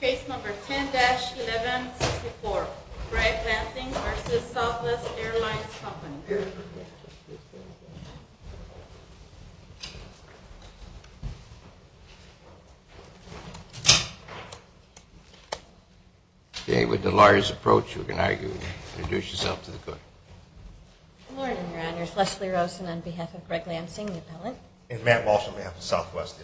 Case number 10-1164, Gregg Lansing v. Southwest Airlines Company Okay, with the lawyer's approach, you can introduce yourself to the court. Good morning, Your Honors. Leslie Rosen on behalf of Gregg Lansing, the appellant. And Matt Walsh on behalf of Southwest.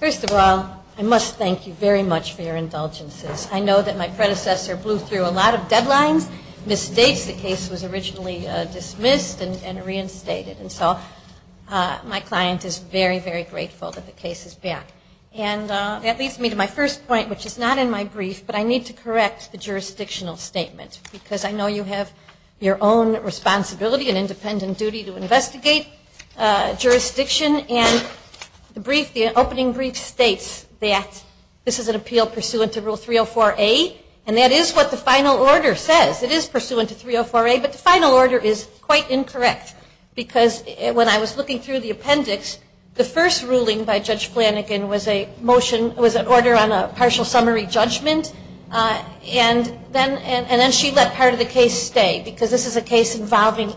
First of all, I must thank you very much for your indulgences. I know that my predecessor blew through a lot of deadlines, misstates the case was originally dismissed and reinstated. And so my client is very, very grateful that the case is back. And that leads me to my first point, which is not in my brief, but I need to correct the jurisdictional statement. Because I know you have your own responsibility and independent duty to investigate jurisdiction. And the opening brief states that this is an appeal pursuant to Rule 304A, and that is what the final order says. It is pursuant to 304A, but the final order is quite incorrect. Because when I was looking through the appendix, the first ruling by Judge Flanagan was a motion, was an order on a partial summary judgment. And then she let part of the case stay. Because this is a case involving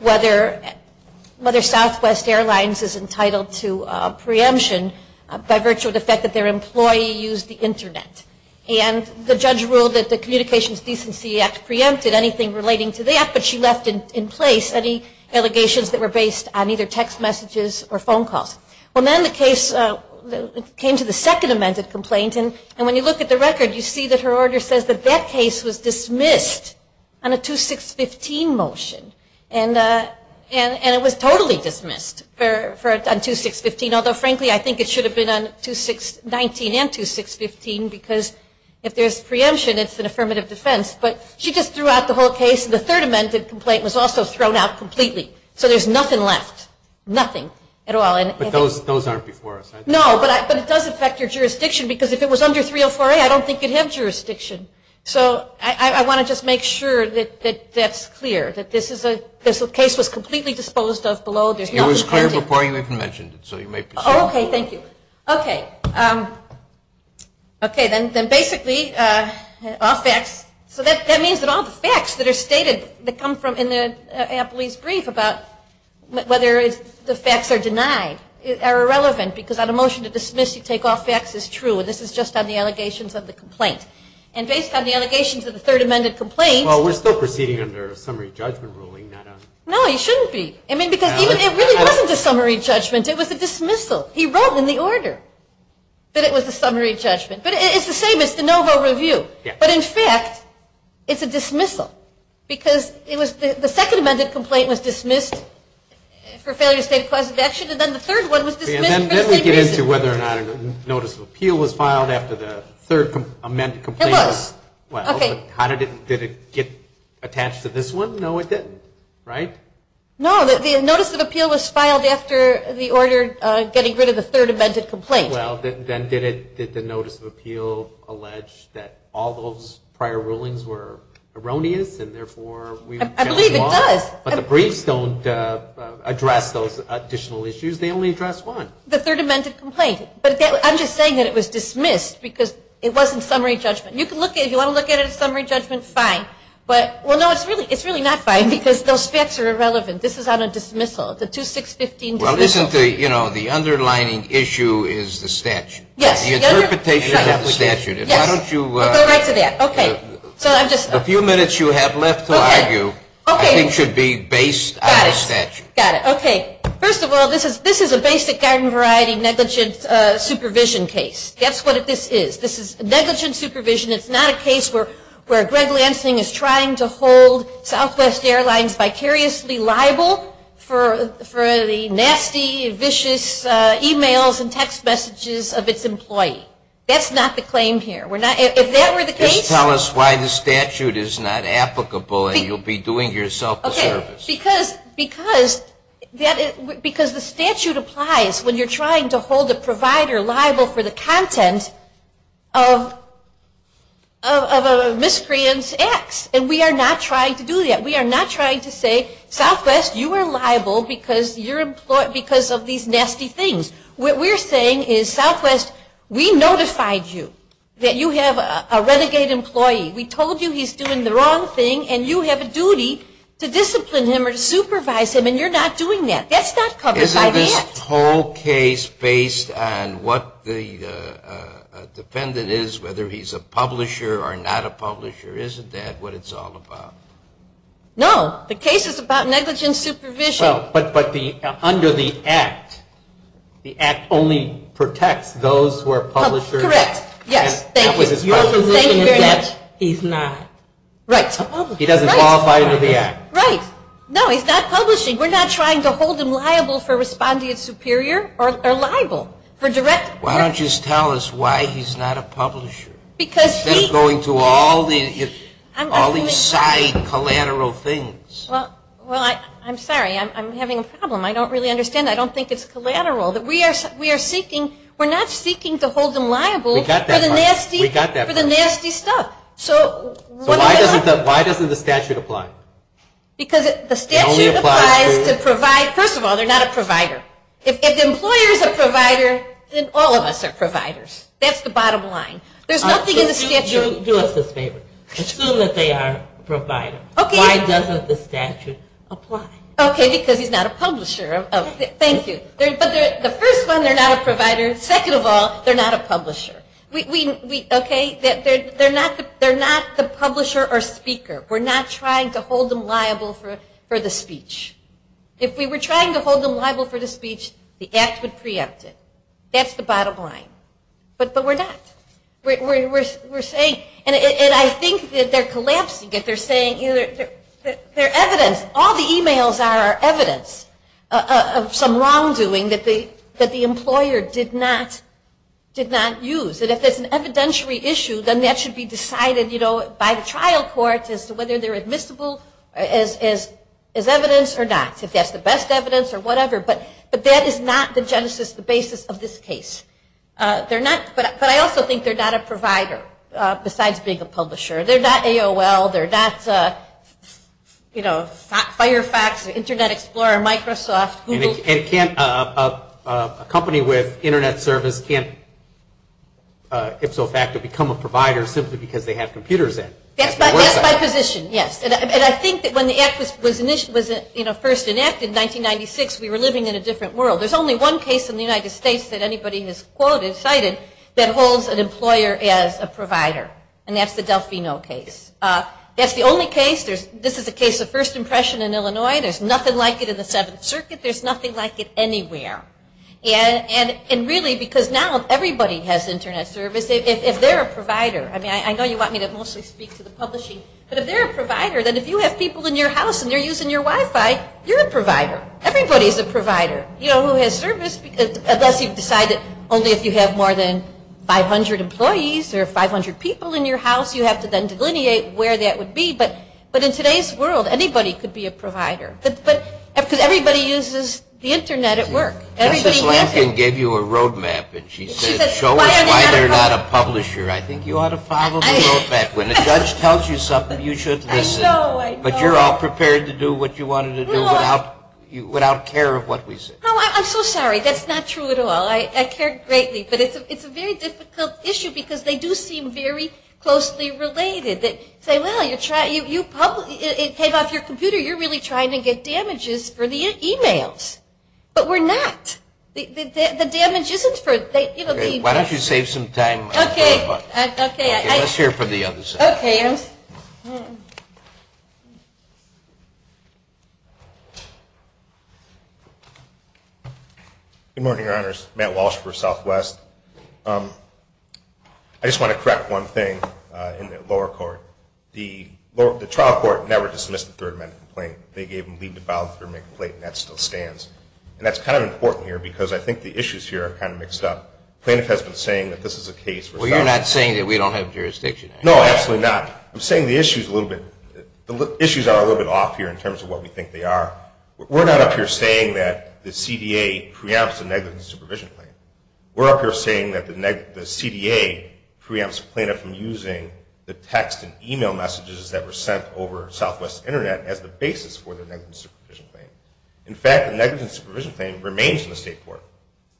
whether Southwest Airlines is entitled to preemption by virtue of the fact that their employee used the Internet. And the judge ruled that the Communications Decency Act preempted anything relating to that, but she left in place any allegations that were based on either text messages or phone calls. Well, then the case came to the second amended complaint. And when you look at the record, you see that her order says that that case was dismissed on a 2-6-15 motion. And it was totally dismissed on 2-6-15. Although, frankly, I think it should have been on 2-6-19 and 2-6-15, because if there's preemption, it's an affirmative defense. But she just threw out the whole case, and the third amended complaint was also thrown out completely. So there's nothing left, nothing at all. But those aren't before us, right? No, but it does affect your jurisdiction. Because if it was under 304A, I don't think you'd have jurisdiction. So I want to just make sure that that's clear, that this case was completely disposed of below. It was clear before you even mentioned it, so you may proceed. Okay, thank you. Okay. Okay, then basically all facts. All the facts that are stated that come from in Ampli's brief about whether the facts are denied are irrelevant, because on a motion to dismiss, you take off facts as true. And this is just on the allegations of the complaint. And based on the allegations of the third amended complaint. Well, we're still proceeding under a summary judgment ruling. No, you shouldn't be. I mean, because it really wasn't a summary judgment. It was a dismissal. He wrote in the order that it was a summary judgment. But it's the same as de novo review. But in fact, it's a dismissal. Because the second amended complaint was dismissed for failure to state a cause of action, and then the third one was dismissed for the same reason. Then we get into whether or not a notice of appeal was filed after the third amended complaint. It was. Well, did it get attached to this one? No, it didn't. Right? No, the notice of appeal was filed after the order getting rid of the third amended complaint. Well, then did the notice of appeal allege that all those prior rulings were erroneous, and therefore we've judged wrong? I believe it does. But the briefs don't address those additional issues. They only address one. The third amended complaint. But I'm just saying that it was dismissed because it wasn't summary judgment. You can look at it. If you want to look at it as summary judgment, fine. But, well, no, it's really not fine because those facts are irrelevant. This is on a dismissal, the 2615 dismissal. Well, listen, you know, the underlining issue is the statute. Yes. The interpretation of the statute. Yes. Why don't you. I'll go right to that. Okay. So I'm just. The few minutes you have left to argue. Okay. I think should be based on the statute. Got it. Got it. Okay. First of all, this is a basic garden variety negligence supervision case. That's what this is. This is negligence supervision. It's not a case where Greg Lansing is trying to hold Southwest Airlines vicariously liable for the nasty, vicious e-mails and text messages of its employee. That's not the claim here. If that were the case. Just tell us why the statute is not applicable and you'll be doing yourself a service. Okay. Because the statute applies when you're trying to hold a provider liable for the content of a miscreant's acts. And we are not trying to do that. We are not trying to say, Southwest, you are liable because of these nasty things. What we're saying is, Southwest, we notified you that you have a renegade employee. We told you he's doing the wrong thing and you have a duty to discipline him or to supervise him and you're not doing that. That's not covered by the act. The whole case based on what the defendant is, whether he's a publisher or not a publisher, isn't that what it's all about? No. The case is about negligence supervision. But under the act, the act only protects those who are publishers. Correct. Yes. Thank you very much. He's not. Right. He doesn't qualify under the act. Right. No, he's not publishing. We're not trying to hold him liable for responding as superior or liable. Why don't you just tell us why he's not a publisher? Instead of going to all these side collateral things. Well, I'm sorry. I'm having a problem. I don't really understand. I don't think it's collateral. We're not seeking to hold him liable for the nasty stuff. So why doesn't the statute apply? Because the statute applies to provide. First of all, they're not a provider. If the employer is a provider, then all of us are providers. That's the bottom line. There's nothing in the statute. Do us this favor. Assume that they are a provider. Okay. Why doesn't the statute apply? Okay, because he's not a publisher. Thank you. But the first one, they're not a provider. Second of all, they're not a publisher. Okay? They're not the publisher or speaker. We're not trying to hold them liable for the speech. If we were trying to hold them liable for the speech, the act would preempt it. That's the bottom line. But we're not. We're saying, and I think that they're collapsing it. They're saying, you know, they're evidence. All the emails are evidence of some wrongdoing that the employer did not use. By the trial court as to whether they're admissible as evidence or not, if that's the best evidence or whatever. But that is not the genesis, the basis of this case. But I also think they're not a provider besides being a publisher. They're not AOL. They're not, you know, Firefox, Internet Explorer, Microsoft, Google. A company with Internet service can't, if so fact, become a provider simply because they have computers in. That's my position, yes. And I think that when the act was first enacted in 1996, we were living in a different world. There's only one case in the United States that anybody has quoted, cited, that holds an employer as a provider. And that's the Delfino case. That's the only case. This is a case of first impression in Illinois. There's nothing like it in the Seventh Circuit. There's nothing like it anywhere. And really, because now everybody has Internet service. If they're a provider, I mean, I know you want me to mostly speak to the publishing. But if they're a provider, then if you have people in your house and they're using your Wi-Fi, you're a provider. Everybody's a provider, you know, who has service, unless you've decided only if you have more than 500 employees or 500 people in your house. You have to then delineate where that would be. But in today's world, anybody could be a provider. Because everybody uses the Internet at work. Justice Lankin gave you a roadmap. And she said, show us why they're not a publisher. I think you ought to follow the roadmap. When the judge tells you something, you should listen. I know, I know. But you're all prepared to do what you wanted to do without care of what we say. No, I'm so sorry. That's not true at all. I care greatly. But it's a very difficult issue because they do seem very closely related. They say, well, it came off your computer. You're really trying to get damages for the e-mails. But we're not. The damage isn't for the e-mails. Why don't you save some time for the buttons? Okay. Let's hear from the other side. Okay. Good morning, Your Honors. Matt Walsh for Southwest. I just want to correct one thing in the lower court. The trial court never dismissed the third-man complaint. They gave him leave to file the third-man complaint, and that still stands. And that's kind of important here because I think the issues here are kind of mixed up. Plaintiff has been saying that this is a case for self- Well, you're not saying that we don't have jurisdiction. No, absolutely not. I'm saying the issues are a little bit off here in terms of what we think they are. We're not up here saying that the CDA preempts a negligent supervision claim. We're up here saying that the CDA preempts a plaintiff from using the text and e-mail messages that were sent over Southwest Internet as the basis for the negligent supervision claim. In fact, the negligent supervision claim remains in the state court.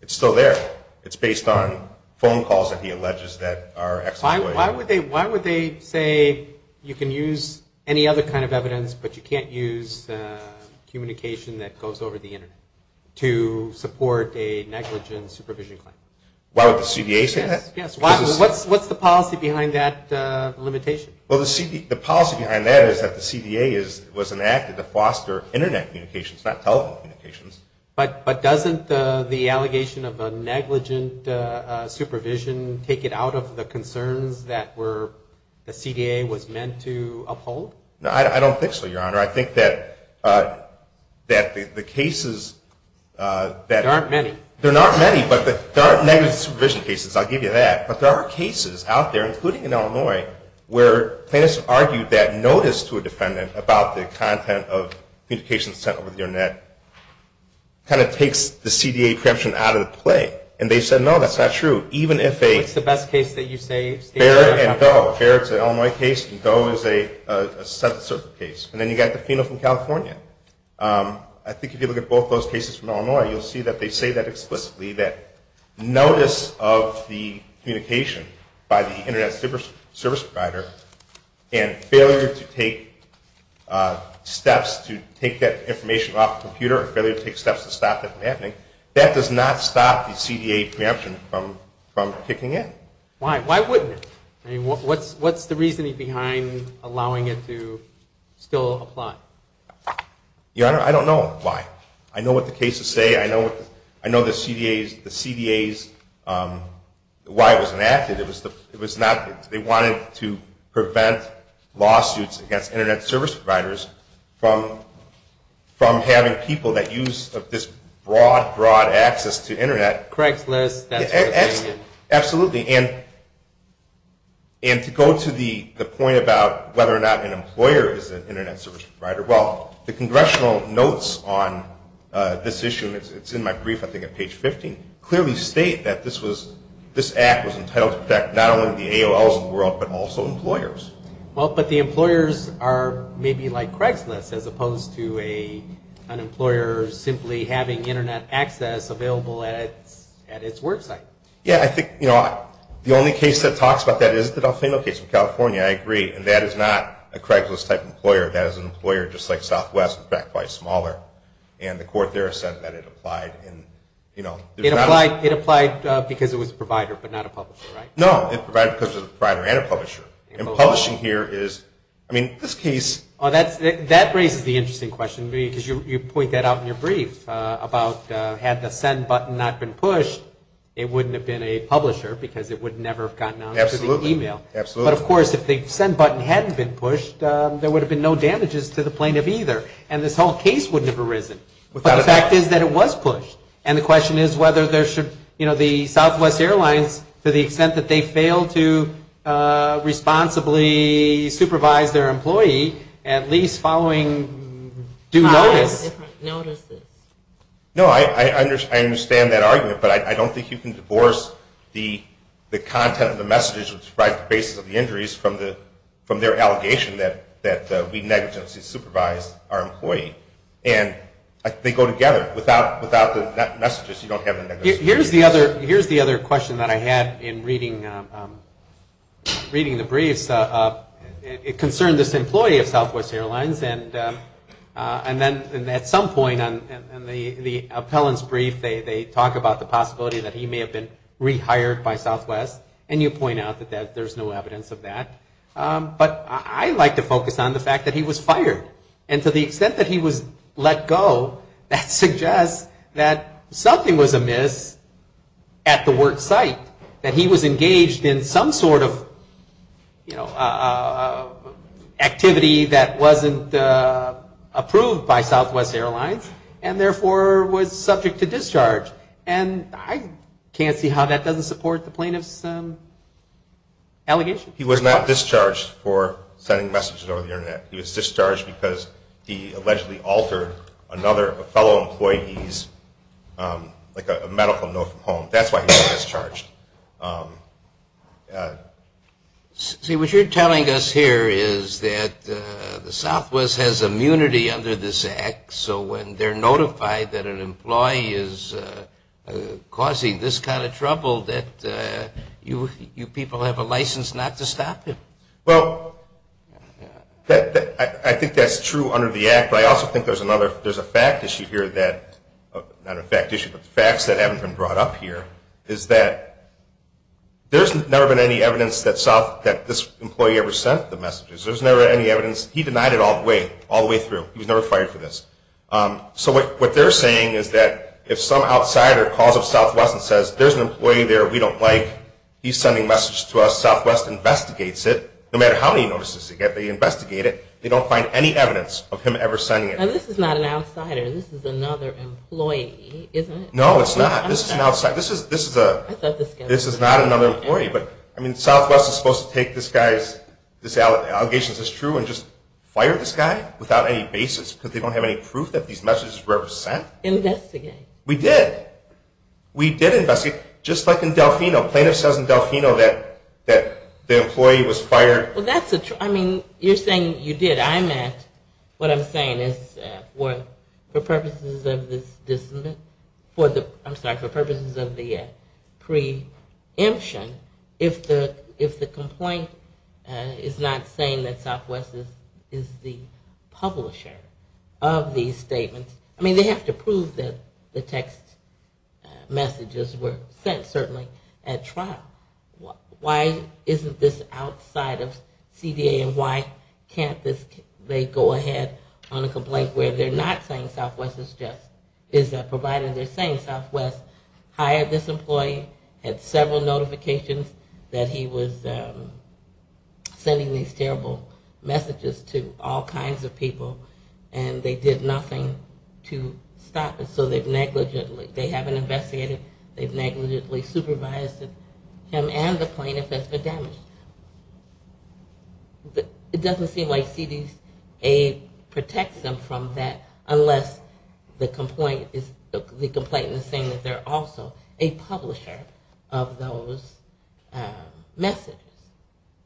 It's still there. It's based on phone calls that he alleges that are exploitative. Why would they say you can use any other kind of evidence, but you can't use communication that goes over the Internet to support a negligent supervision claim? Why would the CDA say that? Yes, yes. What's the policy behind that limitation? Well, the policy behind that is that the CDA was enacted to foster Internet communications, not telephone communications. But doesn't the allegation of a negligent supervision take it out of the concerns that the CDA was meant to uphold? No, I don't think so, Your Honor. I think that the cases that- There aren't many. There aren't many, but there aren't negligent supervision cases. I'll give you that. But there are cases out there, including in Illinois, where plaintiffs argued that notice to a defendant about the content of communications sent over the Internet kind of takes the CDA preemption out of the play. And they said, no, that's not true. Even if a- What's the best case that you say- Barrett and Doe. Barrett's an Illinois case, and Doe is a Senate circuit case. And then you've got the female from California. I think if you look at both those cases from Illinois, you'll see that they say that explicitly, that notice of the communication by the Internet service provider and failure to take steps to take that information off the computer or failure to take steps to stop that from happening, that does not stop the CDA preemption from kicking in. Why? Why wouldn't it? I mean, what's the reasoning behind allowing it to still apply? Your Honor, I don't know why. I know what the cases say. I know the CDA's-why it was enacted. It was not-they wanted to prevent lawsuits against Internet service providers from having people that use this broad, broad access to Internet. Craig's List, that's what they did. Absolutely. And to go to the point about whether or not an employer is an Internet service provider, well, the congressional notes on this issue, and it's in my brief, I think, at page 15, clearly state that this act was entitled to protect not only the AOLs in the world, but also employers. Well, but the employers are maybe like Craig's List, as opposed to an employer simply having Internet access available at its work site. Yeah, I think the only case that talks about that is the Delfino case from California. I agree. And that is not a Craig's List-type employer. That is an employer just like Southwest, in fact, quite smaller. And the court there has said that it applied in, you know- It applied because it was a provider, but not a publisher, right? No, it applied because it was a provider and a publisher. And publishing here is-I mean, this case- That raises the interesting question, because you point that out in your brief, about had the send button not been pushed, it wouldn't have been a publisher because it would never have gotten out to the email. Absolutely. Absolutely. But, of course, if the send button hadn't been pushed, there would have been no damages to the plaintiff either, and this whole case wouldn't have arisen. But the fact is that it was pushed. And the question is whether there should-you know, the Southwest Airlines, to the extent that they failed to responsibly supervise their employee, at least following due notice- Notices. No, I understand that argument, but I don't think you can divorce the content of the messages which provide the basis of the injuries from their allegation that we negligently supervised our employee. And they go together. Without the messages, you don't have a negligence. Here's the other question that I had in reading the briefs. It concerned this employee of Southwest Airlines, and then at some point in the appellant's brief, they talk about the possibility that he may have been rehired by Southwest, and you point out that there's no evidence of that. But I like to focus on the fact that he was fired. And to the extent that he was let go, that suggests that something was amiss at the work site, that he was engaged in some sort of activity that wasn't approved by Southwest Airlines, and therefore was subject to discharge. And I can't see how that doesn't support the plaintiff's allegation. He was not discharged for sending messages over the Internet. He was discharged because he allegedly altered another fellow employee's, like a medical note from home. That's why he was discharged. See, what you're telling us here is that the Southwest has immunity under this act, so when they're notified that an employee is causing this kind of trouble, that you people have a license not to stop him. Well, I think that's true under the act, but I also think there's a fact issue here that, not a fact issue, but facts that haven't been brought up here, is that there's never been any evidence that this employee ever sent the messages. There's never been any evidence. He denied it all the way, all the way through. He was never fired for this. So what they're saying is that if some outsider calls up Southwest and says, there's an employee there we don't like, he's sending messages to us, Southwest investigates it. No matter how many notices they get, they investigate it. They don't find any evidence of him ever sending it. Now, this is not an outsider. This is another employee, isn't it? No, it's not. This is an outsider. This is not another employee. But, I mean, Southwest is supposed to take this guy's allegations as true and just fire this guy without any basis because they don't have any proof that these messages were ever sent? Investigate. We did. We did investigate. Just like in Delfino. Plaintiff says in Delfino that the employee was fired. Well, that's a, I mean, you're saying you did. I meant what I'm saying is for purposes of this, for the, I'm sorry, for purposes of the preemption, if the complaint is not saying that Southwest is the publisher of these statements, I mean, they have to prove that the text messages were sent, certainly, at trial. Why isn't this outside of CDA and why can't they go ahead on a complaint where they're not saying Southwest is just, provided they're saying Southwest hired this employee, had several notifications that he was sending these terrible messages to all kinds of people and they did nothing to stop it. So they've negligently, they haven't investigated, they've negligently supervised him and the plaintiff has been damaged. It doesn't seem like CDA protects them from that unless the complaint is saying that they're also a publisher. Of those messages.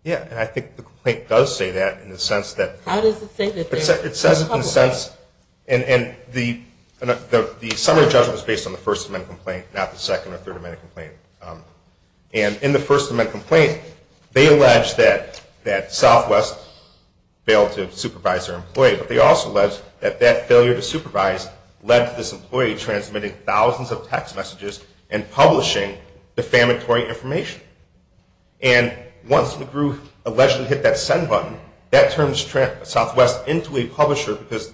Yeah, and I think the complaint does say that in the sense that How does it say that they're a publisher? It says it in the sense, and the summary judgment is based on the First Amendment complaint, not the Second or Third Amendment complaint. And in the First Amendment complaint, they allege that Southwest failed to supervise their employee, but they also allege that that failure to supervise led to this employee transmitting thousands of text messages and publishing defamatory information. And once the group allegedly hit that send button, that turns Southwest into a publisher because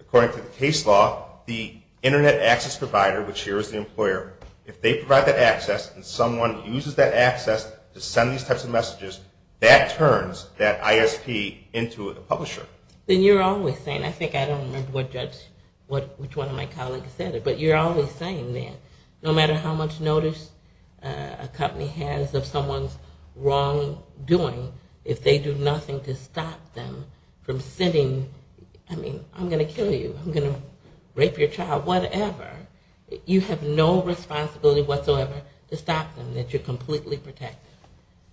according to the case law, the internet access provider, which here is the employer, if they provide that access and someone uses that access to send these types of messages, that turns that ISP into a publisher. Then you're always saying, I think I don't remember what judge, which one of my colleagues said it, but you're always saying that no matter how much notice a company has of someone's wrongdoing, if they do nothing to stop them from sending, I mean, I'm going to kill you, I'm going to rape your child, whatever, you have no responsibility whatsoever to stop them, that you're completely protected.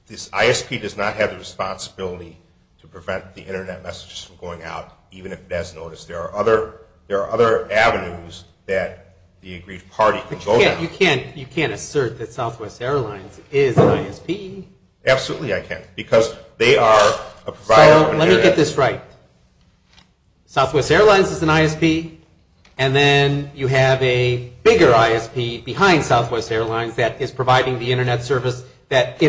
This ISP does not have the responsibility to prevent the internet messages from going out, even if that's noticed. There are other avenues that the aggrieved party can go down. But you can't assert that Southwest Airlines is an ISP. Absolutely I can't, because they are a provider of the internet. So let me get this right. Southwest Airlines is an ISP, and then you have a bigger ISP behind Southwest Airlines that is providing the internet service that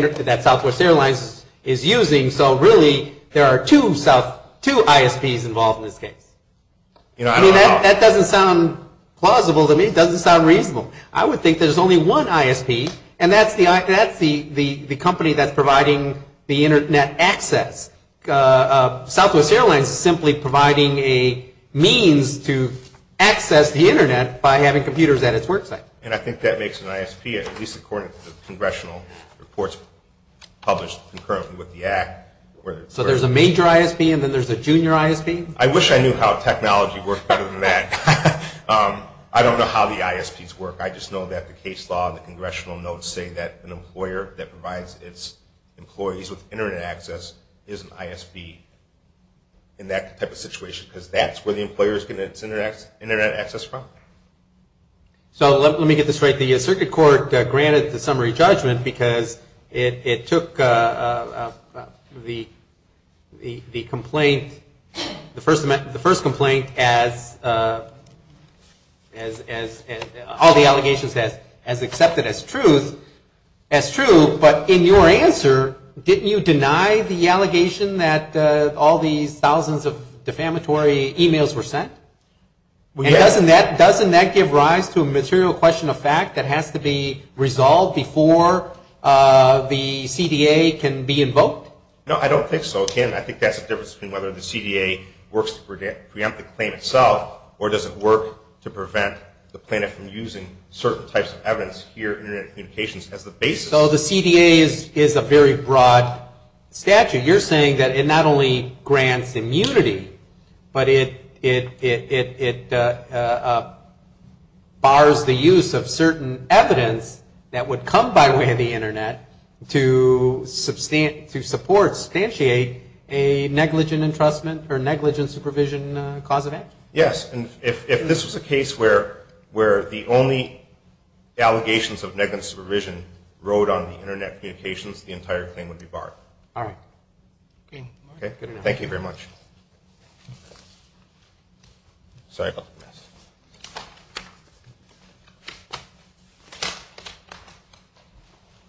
Southwest Airlines is using. So really, there are two ISPs involved in this case. That doesn't sound plausible to me, it doesn't sound reasonable. I would think there's only one ISP, and that's the company that's providing the internet access. Southwest Airlines is simply providing a means to access the internet by having computers at its work site. And I think that makes an ISP, at least according to the congressional reports published concurrently with the Act. So there's a major ISP, and then there's a junior ISP? I wish I knew how technology works better than that. I don't know how the ISPs work, I just know that the case law and the congressional notes say that an employer that provides its employees with internet access is an ISP. In that type of situation, because that's where the employer is getting its internet access from. So let me get this right. The circuit court granted the summary judgment because it took the complaint, the first complaint as all the allegations as accepted as truth, as true, but in your answer, didn't you deny the allegation that all these thousands of defamatory emails were sent? Doesn't that give rise to a material question of fact that has to be resolved before the CDA can be invoked? No, I don't think so, Tim. I think that's the difference between whether the CDA works to preempt the claim itself, or does it work to prevent the plaintiff from using certain types of evidence here in internet communications as the basis. So the CDA is a very broad statute. You're saying that it not only grants immunity, but it bars the use of certain evidence that would come by way of the internet to support, substantiate a negligent entrustment or negligent supervision cause of act? Yes, and if this was a case where the only allegations of negligent supervision rode on the internet communications, the entire claim would be barred. Thank you very much.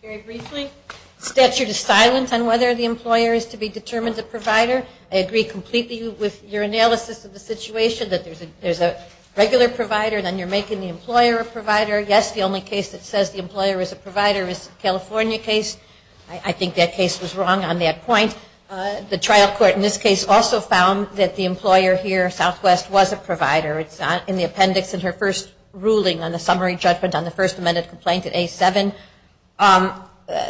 Very briefly, the statute is silent on whether the employer is to be determined a provider. I agree completely with your analysis of the situation that there's a regular provider, then you're making the employer a provider. Yes, the only case that says the employer is a provider is the California case. I think that case was wrong on that point. The trial court in this case also found that the employer here, Southwest, was a provider. In the appendix in her first ruling on the summary judgment on the First Amendment complaint at A7,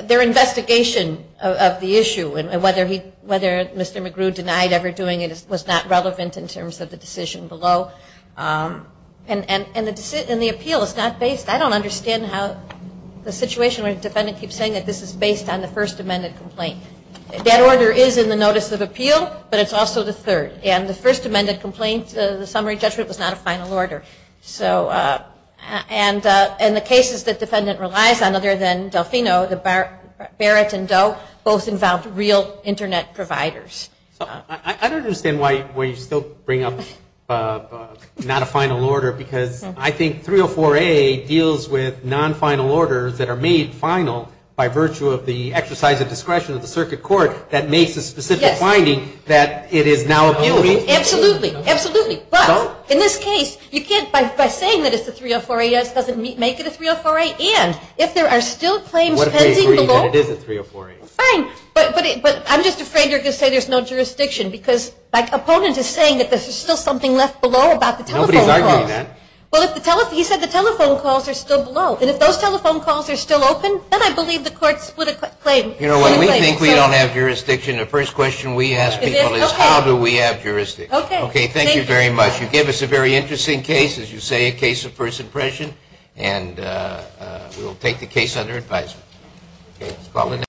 their investigation of the issue and whether Mr. McGrew denied ever doing it was not relevant in terms of the decision below. And the appeal is not based, I don't understand how the situation where the defendant keeps saying that this is based on the First Amendment complaint. That order is in the summary judgment was not a final order. And the cases the defendant relies on other than Delfino, Barrett and Doe, both involved real internet providers. I don't understand why you still bring up not a final order because I think 304A deals with non-final orders that are made final by virtue of the exercise of discretion of the circuit court that makes a specific finding that it is now a final order. Absolutely. But in this case, you can't by saying that it's a 304A doesn't make it a 304A and if there are still claims pending below I'm just afraid you're going to say there's no jurisdiction because my opponent is saying that there's still something left below about the telephone calls. Nobody's arguing that. Well, he said the telephone calls are still below. And if those telephone calls are still open, then I believe the court split a claim. The first question we ask people is how do we have jurisdiction? Okay, thank you very much. You gave us a very interesting case as you say a case of first impression and we'll take the case under advisement.